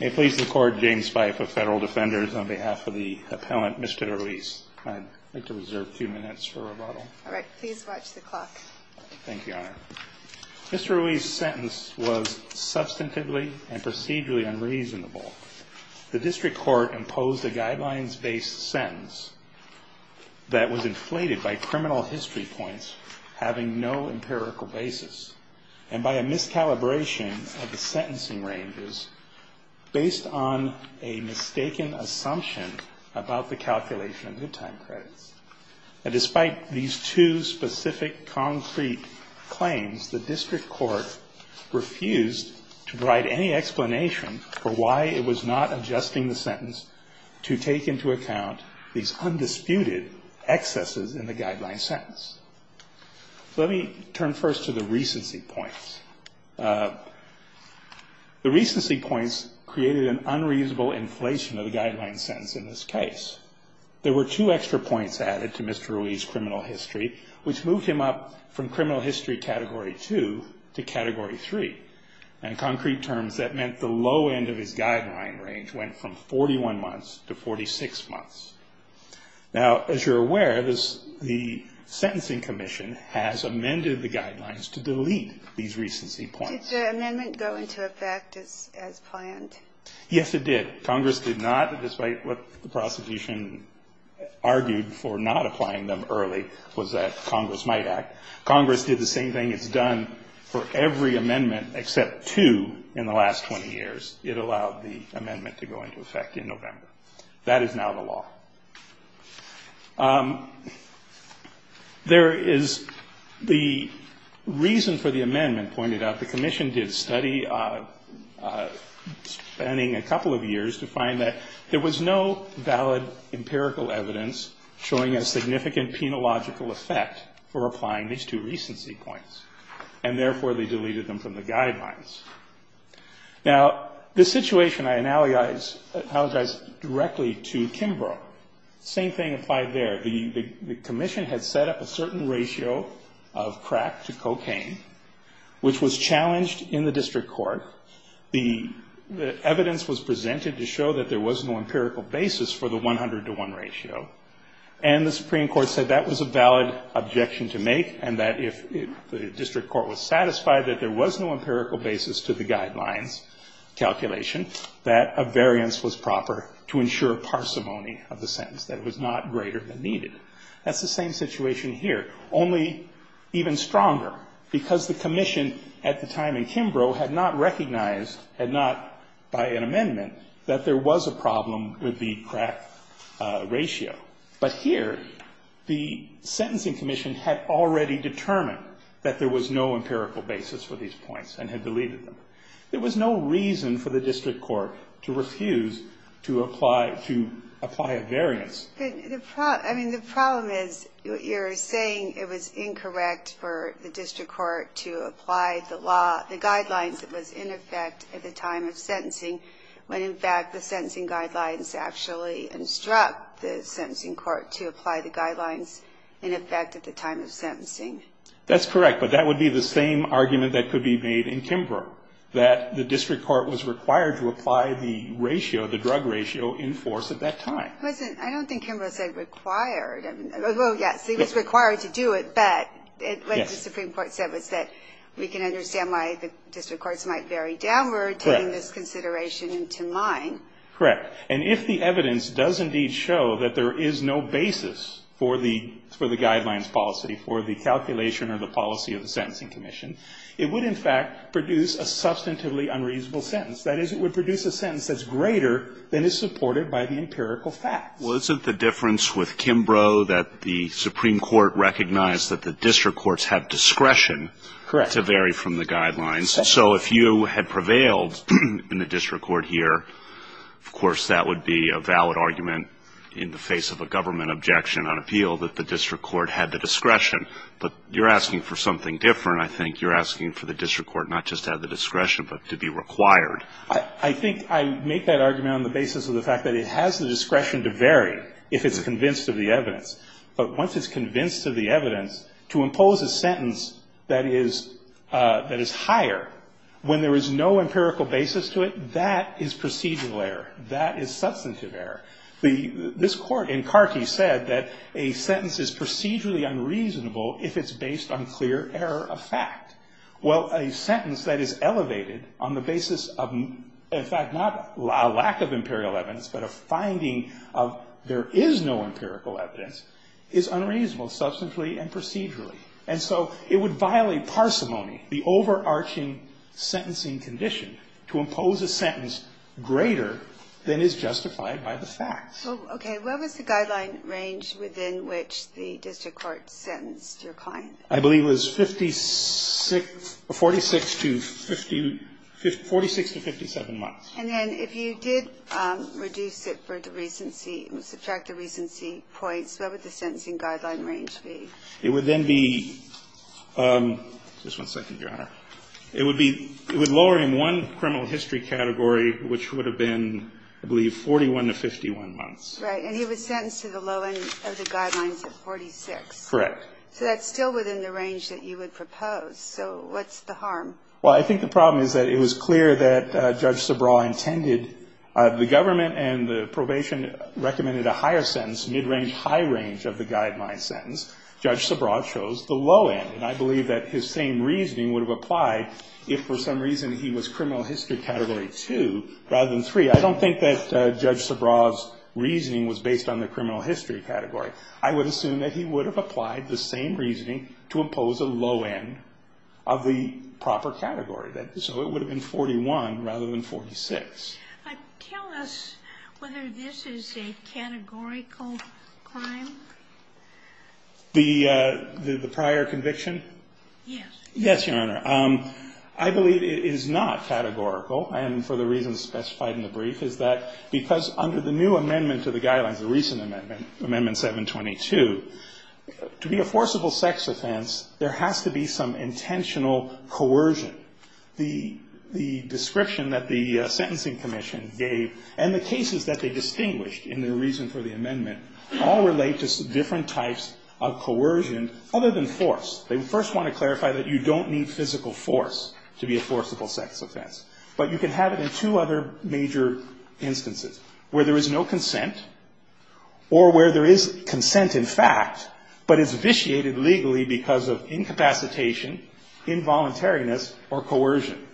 May it please the court, James Spife of Federal Defenders on behalf of the appellant Mr. Ruiz. I'd like to reserve a few minutes for rebuttal. Alright, please watch the clock. Thank you, Your Honor. Mr. Ruiz's sentence was substantively and procedurally unreasonable. The district court imposed a guidelines-based sentence that was inflated by criminal history points having no empirical basis and by a miscalibration of the sentencing ranges based on a mistaken assumption about the calculation of good time credits. And despite these two specific concrete claims, the district court refused to provide any explanation for why it was not adjusting the sentence to take into account these undisputed excesses in the guideline sentence. So let me turn first to the recency points. The recency points created an unreasonable inflation of the guideline sentence in this case. There were two extra points added to Mr. Ruiz's criminal history, which moved him up from criminal history category two to category three. In concrete terms, that meant the low end of his guideline range went from 41 months to 46 months. Now, as you're aware, the sentencing range was a little bit different. The sentencing commission has amended the guidelines to delete these recency points. Did the amendment go into effect as planned? Yes, it did. Congress did not, despite what the prosecution argued for not applying them early, was that Congress might act. Congress did the same thing it's done for every amendment except two in the last 20 years. It allowed the amendment to go into effect in November. That is now the law. There is the reason for the amendment, pointed out. The commission did study, spending a couple of years, to find that there was no valid empirical evidence showing a significant penological effect for applying these two recency points, and therefore they deleted them from the guidelines. Now, this situation, I apologize directly to Kimbrough. Same thing applied there. The commission had set up a certain ratio of crack to cocaine, which was challenged in the district court. The evidence was presented to show that there was no empirical basis for the 100 to 1 ratio, and the Supreme Court said that was a valid objection to make, and that if the district court was satisfied that there was no empirical basis to the guidelines calculation, that a variance was proper to ensure parsimony of the sentence, that it was not greater than needed. That's the same situation here, only even stronger, because the commission at the time in Kimbrough had not recognized, had not by an amendment, that there was a problem with the crack ratio. But here, the sentencing commission had already determined that there was no reason for the district court to refuse to apply a variance. The problem is you're saying it was incorrect for the district court to apply the law, the guidelines that was in effect at the time of sentencing, when in fact the sentencing guidelines actually instruct the sentencing court to apply the guidelines in effect at the time of sentencing. That's correct, but that would be the same argument that could be made in Kimbrough, that the district court was required to apply the ratio, the drug ratio, in force at that time. I don't think Kimbrough said required. Well, yes, he was required to do it, but what the Supreme Court said was that we can understand why the district courts might be very downward taking this consideration into mind. Correct. And if the evidence does indeed show that there is no basis for the guidelines policy, for the calculation or the policy of the sentencing commission, it would in fact produce a substantively unreasonable sentence. That is, it would produce a sentence that's greater than is supported by the empirical facts. Well, isn't the difference with Kimbrough that the Supreme Court recognized that the district courts had discretion to vary from the guidelines? So if you had prevailed in the district court here, of course that would be a valid argument in the face of a government objection on appeal that the district court had the discretion. But you're asking for something different, I think. You're asking for the discretion to vary if it's convinced of the evidence. But once it's convinced of the evidence, to impose a sentence that is higher when there is no empirical basis to it, that is procedural error. That is substantive error. This Court in Carkey said that a sentence is procedurally unreasonable if it's based on clear error of fact. Well, a sentence that is elevated on the basis of, in fact, not a lack of imperial evidence, but a finding of there is no empirical evidence is unreasonable substantively and procedurally. And so it would violate parsimony, the overarching sentencing condition, to impose a sentence greater than is justified by the facts. Okay. What was the guideline range within which the district court sentenced your client? I believe it was 46 to 57 months. And then if you did reduce it for the recency, subtract the recency points, what would the sentencing guideline range be? It would then be, just one second, Your Honor. It would be, it would lower him one criminal history category, which would have been, I believe, 41 to 51 months. Right. And he was sentenced to the low end of the guidelines at 46. Correct. So that's still within the range that you would propose. So what's the harm? Well, I think the problem is that it was clear that Judge Sabraw intended the government and the probation recommended a higher sentence, mid-range, high range of the guideline sentence. Judge Sabraw chose the low end. And I believe that his same reasoning would have applied if, for some reason, he was criminal history category 2 rather than 3. I don't think that Judge Sabraw's reasoning was based on the criminal history category. I would assume that he would have applied the same reasoning to impose a low end of the proper category. So it would have been 41 rather than 46. Tell us whether this is a categorical crime. The prior conviction? Yes. Yes, Your Honor. I believe it is not categorical. And for the reasons specified in the brief is that because under the new amendment to the guidelines, the recent amendment, Amendment 722, to be a forcible sex offense, there has to be some intentional coercion. The description that the Sentencing Commission gave and the cases that they distinguished in their reason for the amendment all relate to different types of coercion other than force. They first want to clarify that you don't need physical force to be a forcible sex offense. But you can have it in two other major instances, where there is no consent or where there is consent in fact, but it's vitiated legally because of incapacitation, involuntariness, or coercion.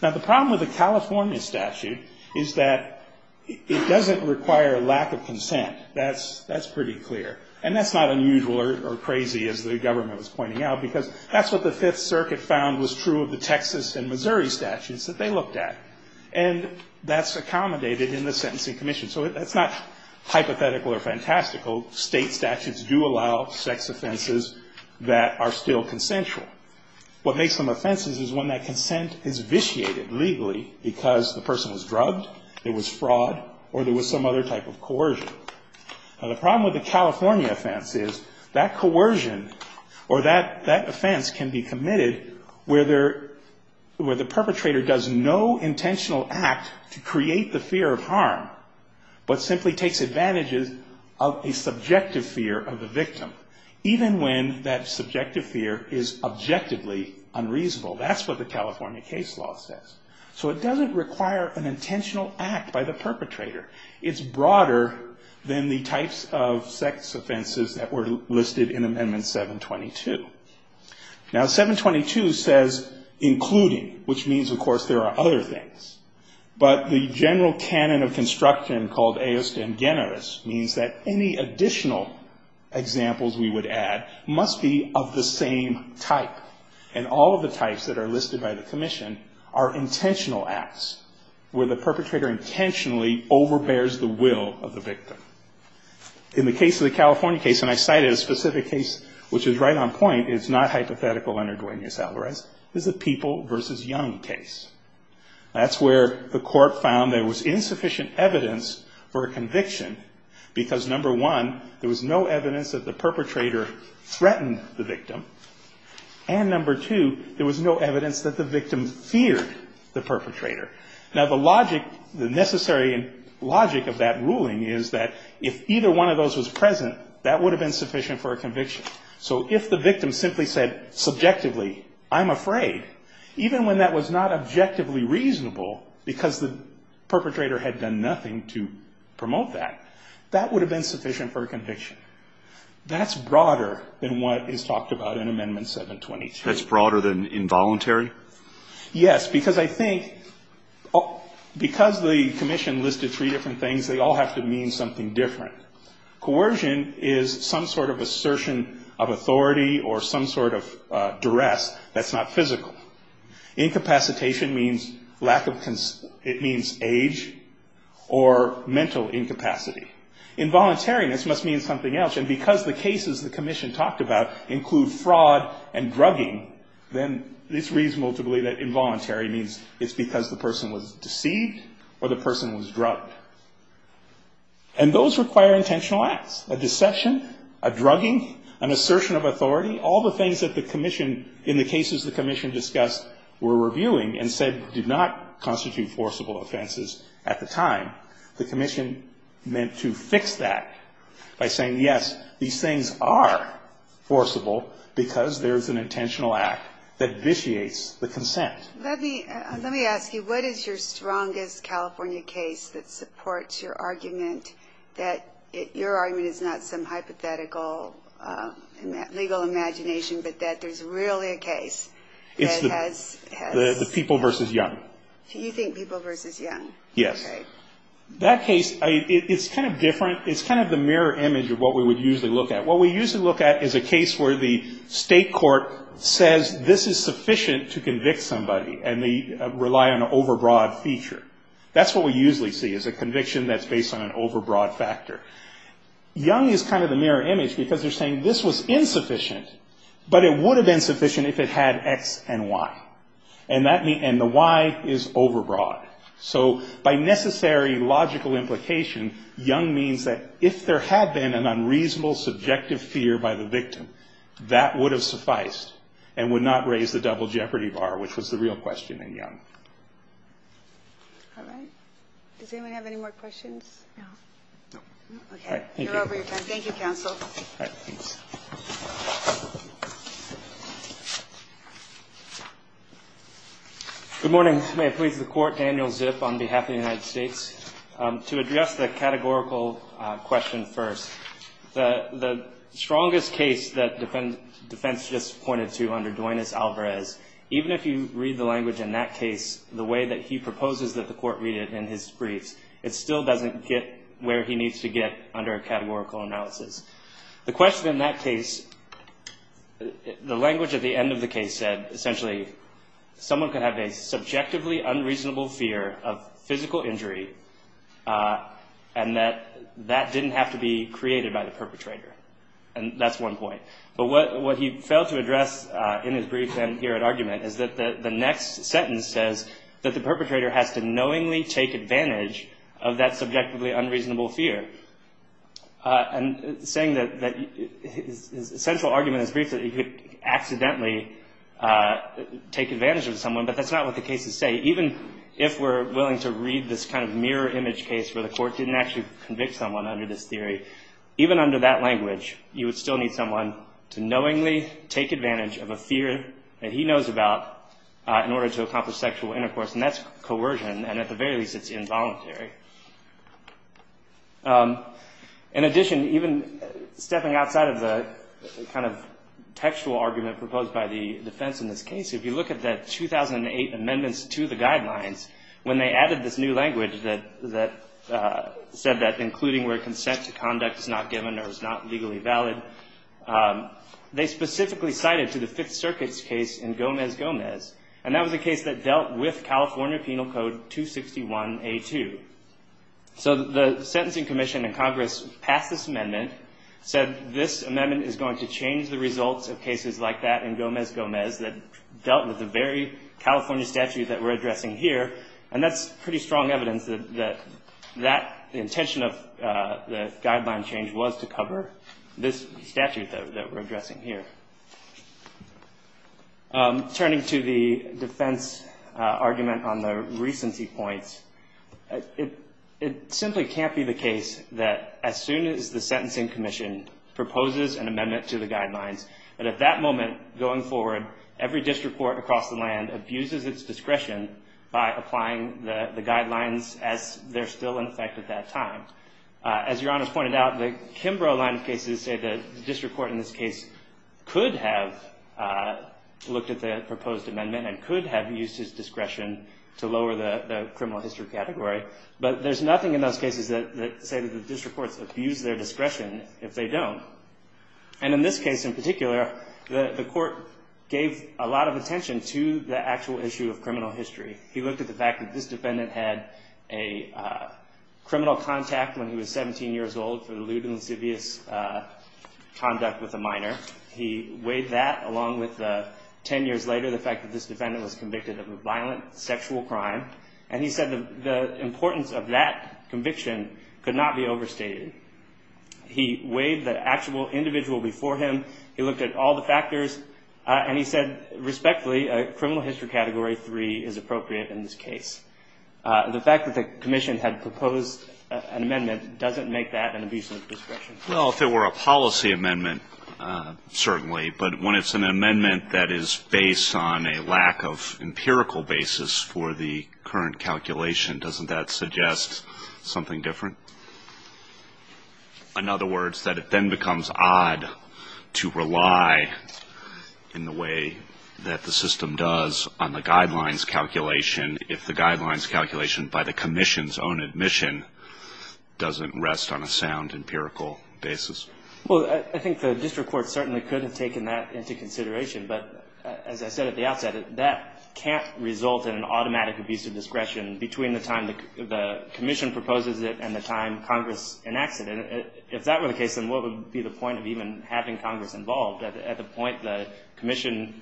Now, the problem with the California statute is that it doesn't require lack of consent. That's pretty clear. And that's not unusual or crazy, as the government was pointing out, because that's what the Fifth Circuit found was true of the Texas and Missouri statutes that they looked at. And that's accommodated in the Sentencing Commission. So that's not hypothetical or fantastical. State statutes do allow sex offenses that are still consensual. What makes them offenses is when that consent is vitiated legally because the person was drugged, it was fraud, or there was some other type of coercion. Now, the problem with the California offense is that coercion or that offense can be committed where the perpetrator does no intentional act to create the fear of harm, but simply takes advantage of a subjective fear of the victim, even when that subjective fear is objectively unreasonable. That's what the California case law says. So it doesn't require an intentional act by the perpetrator. It's broader than the types of sex offenses that were listed in Amendment 722. Now, 722 says including, which means, of course, there are other things. But the general canon of construction called eos dem generis means that any additional examples we would add must be of the same type. And all of the types that are listed by the commission are intentional acts, where the perpetrator intentionally overbears the will of the victim. In the case of the California case, and I cited a specific case which is right on point, it's not hypothetical under Duenas-Alvarez, is the People v. Young case. That's where the court found there was insufficient evidence for a conviction because number one, there was no evidence that the perpetrator threatened the victim. And number two, there was no evidence that the victim feared the perpetrator. Now, the logic, the necessary logic of that ruling is that if either one of those was present, that would have been sufficient for a conviction. So if the victim simply said subjectively, I'm afraid, even when that was not objectively reasonable because the perpetrator had done nothing to promote that, that would have been sufficient for a conviction. That's broader than what is talked about in Amendment 722. That's broader than involuntary? Yes, because I think because the commission listed three different things, they all have to mean something different. Coercion is some sort of assertion of authority or some sort of duress that's not physical. Incapacitation means lack of, it means age or mental incapacity. Involuntariness must mean something else. And because the cases the commission talked about include fraud and drugging, then it's reasonable to believe that involuntary means it's because the person was deceived or the person was drugged. And those require intentional acts, a deception, a drugging, an assertion of were reviewing and said did not constitute forcible offenses at the time. The commission meant to fix that by saying, yes, these things are forcible because there's an intentional act that vitiates the consent. Let me ask you, what is your strongest California case that supports your argument that your argument is not some hypothetical legal imagination but that there's really a case that has? The People v. Young. You think People v. Young? Yes. Okay. That case, it's kind of different. It's kind of the mirror image of what we would usually look at. What we usually look at is a case where the state court says this is sufficient to convict somebody and they rely on an overbroad feature. That's what we usually see is a conviction that's based on an overbroad factor. Young is kind of the mirror image because they're saying this was insufficient but it would have been sufficient if it had X and Y. And the Y is overbroad. So by necessary logical implication, Young means that if there had been an unreasonable subjective fear by the victim, that would have sufficed and would not raise the double jeopardy bar, which was the real question in Young. All right. Does anyone have any more questions? No. No. Okay. You're over your time. Thank you, counsel. All right. Thanks. Good morning. May it please the Court. Daniel Zip on behalf of the United States. To address the categorical question first, the strongest case that defense just pointed to under Duanez-Alvarez, even if you read the language in that case, the way that he proposes that the Court read it in his briefs, it still doesn't get where he needs to get under a categorical analysis. The question in that case, the language at the end of the case said, essentially, someone could have a subjectively unreasonable fear of physical injury and that that didn't have to be created by the perpetrator. And that's one point. But what he failed to address in his brief here at argument is that the next sentence says that the perpetrator has to knowingly take advantage of that subjectively unreasonable fear. And saying that his central argument in his brief is that he could accidentally take advantage of someone, but that's not what the cases say. Even if we're willing to read this kind of mirror image case where the Court didn't actually convict someone under this theory, even under that language, you would still need someone to knowingly take advantage of a fear that he knows about in order to accomplish sexual intercourse. And that's coercion. And at the very least, it's involuntary. In addition, even stepping outside of the kind of textual argument proposed by the defense in this case, if you look at the 2008 amendments to the guidelines, when they added this new language that said that including where consent to conduct is not given or is not legally valid, they specifically cited to the Fifth Circuit's case in Gomez-Gomez, and that was a case that dealt with California Penal Code 261A2. So the sentencing commission in Congress passed this amendment, said this amendment is going to change the results of cases like that in Gomez-Gomez that dealt with the very California statute that we're addressing here, and that's pretty strong evidence that the intention of the guideline change was to cover this statute that we're addressing here. Turning to the defense argument on the recency points, it simply can't be the case that as soon as the sentencing commission proposes an amendment to the guidelines, that at that moment going forward, every district court across the land abuses its discretion by applying the guidelines as they're still in effect at that time. As Your Honors pointed out, the Kimbrough line of cases say that the district court in this case could have looked at the proposed amendment and could have used his discretion to lower the criminal history category, but there's nothing in those cases that say that the district courts abuse their discretion if they don't. And in this case in particular, the court gave a lot of attention to the actual issue of criminal history. He looked at the fact that this defendant had a criminal contact when he was 17 years old for the lewd and lascivious conduct with a minor. He weighed that along with 10 years later the fact that this defendant was convicted of a violent sexual crime, and he said the importance of that conviction could not be overstated. He weighed the actual individual before him. He looked at all the factors, and he said, respectfully, criminal history category 3 is appropriate in this case. The fact that the commission had proposed an amendment doesn't make that an abusive discretion. Well, if it were a policy amendment, certainly, but when it's an amendment that is based on a lack of empirical basis for the current calculation, doesn't that suggest something different? In other words, that it then becomes odd to rely in the way that the system does on the guidelines calculation if the guidelines calculation by the commission's own admission doesn't rest on a sound empirical basis. Well, I think the district court certainly could have taken that into consideration, but as I said at the outset, that can't result in an automatic abusive discretion between the time the commission proposes it and the time Congress enacts it. If that were the case, then what would be the point of even having Congress involved? At the point the commission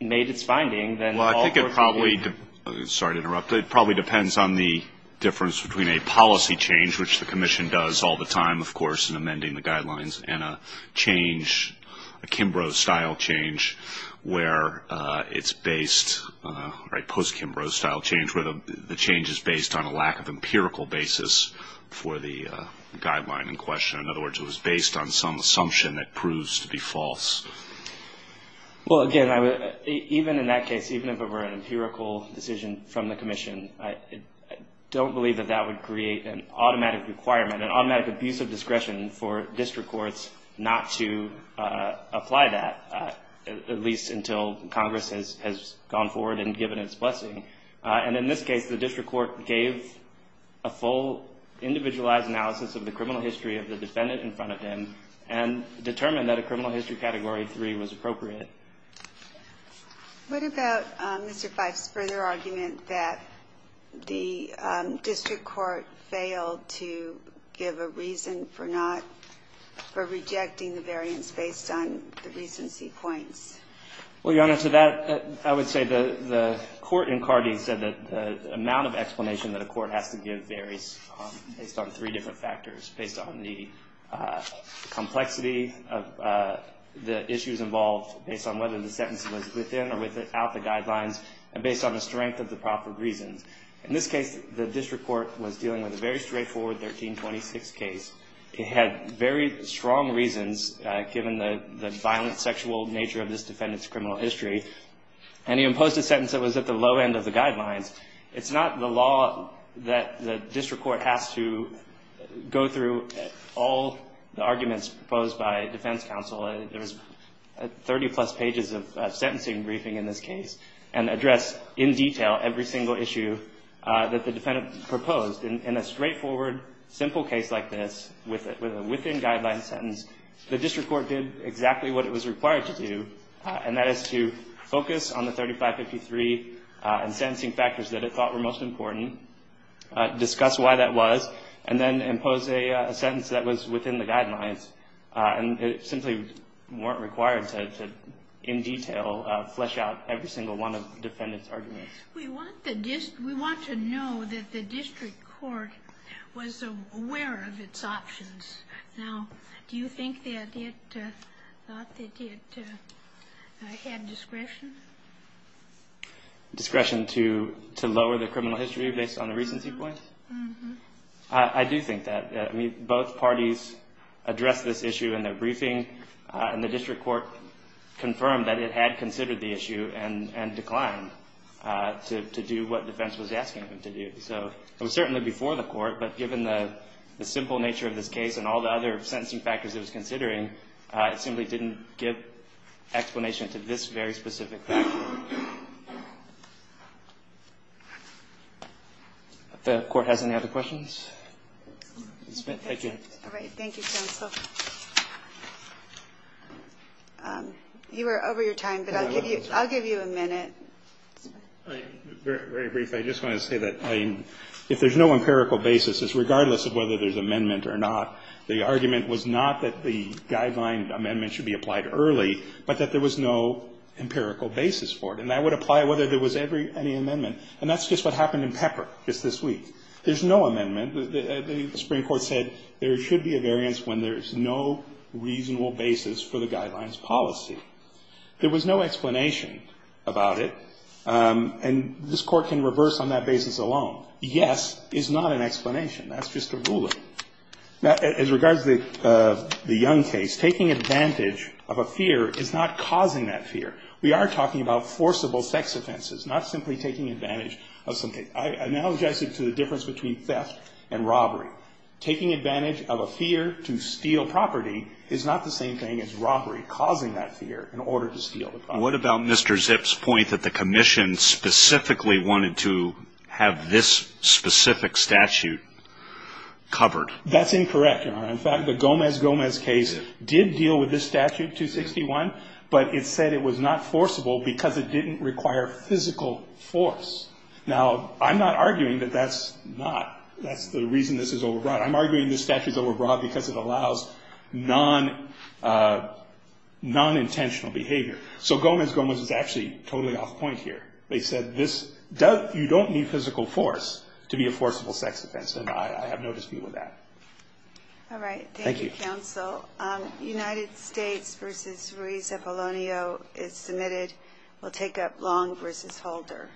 made its finding, then all course would be ---- Well, I think it probably ---- sorry to interrupt. It probably depends on the difference between a policy change, which the commission does all the time, of course, in amending the guidelines, and a change, a Kimbrough-style change where it's based, right, post-Kimbrough-style change where the change is based on a lack of empirical basis for the guideline in question. In other words, it was based on some assumption that proves to be false. Well, again, even in that case, even if it were an empirical decision from the commission, I don't believe that that would create an automatic requirement, an automatic abusive discretion for district courts not to apply that, at least until Congress has gone forward and given its blessing. And in this case, the district court gave a full individualized analysis of the criminal history of the defendant in front of him and determined that a criminal history Category 3 was appropriate. What about Mr. Phipps' further argument that the district court failed to give a reason for not ---- for rejecting the variance based on the recency points? Well, Your Honor, to that, I would say the court in Cardee said that the amount of explanation that a court has to give varies based on three different factors, based on the complexity of the issues involved, based on whether the sentence was within or without the guidelines, and based on the strength of the proper reasons. In this case, the district court was dealing with a very straightforward 1326 case. It had very strong reasons, given the violent, sexual nature of this defendant's criminal history, and he imposed a sentence that was at the low end of the guidelines. It's not the law that the district court has to go through all the arguments proposed by defense counsel. There's 30-plus pages of sentencing briefing in this case and address in detail every single issue that the defendant proposed. In a straightforward, simple case like this, with a within-guidelines sentence, the district court did exactly what it was required to do, and that is to focus on the 3553 and sentencing factors that it thought were most important, discuss why that was, and then impose a sentence that was within the guidelines. And it simply weren't required to, in detail, flesh out every single one of the defendant's arguments. We want to know that the district court was aware of its options. Now, do you think that it had discretion? Discretion to lower the criminal history based on the recency points? Mm-hmm. I do think that. I mean, both parties addressed this issue in their briefing, and the district court confirmed that it had considered the issue and declined to do what defense was asking them to do. So it was certainly before the court, but given the simple nature of this case and all the other sentencing factors it was considering, it simply didn't give explanation to this very specific question. If the Court has any other questions. Thank you. All right. Thank you, counsel. You are over your time, but I'll give you a minute. All right. Very brief. I just want to say that if there's no empirical basis, it's regardless of whether there's amendment or not, the argument was not that the guideline amendment should be applied early, but that there was no empirical basis for it. And that would apply whether there was any amendment. And that's just what happened in Pepper just this week. There's no amendment. The Supreme Court said there should be a variance when there's no reasonable basis for the guideline's policy. There was no explanation about it. And this Court can reverse on that basis alone. Yes is not an explanation. That's just a ruling. As regards to the Young case, taking advantage of a fear is not causing that fear. We are talking about forcible sex offenses, not simply taking advantage of something. I analogize it to the difference between theft and robbery. Taking advantage of a fear to steal property is not the same thing as robbery, What about Mr. Zipp's point that the commission specifically wanted to have this specific statute covered? That's incorrect, Your Honor. In fact, the Gomez-Gomez case did deal with this statute, 261, but it said it was not forcible because it didn't require physical force. Now, I'm not arguing that that's not. That's the reason this is overbroad. I'm arguing this statute is overbroad because it allows non-intentional behavior. So Gomez-Gomez is actually totally off point here. They said you don't need physical force to be a forcible sex offense, and I have no dispute with that. All right. Thank you, Counsel. United States v. Ruiz de Polonio is submitted. We'll take up Long v. Holder.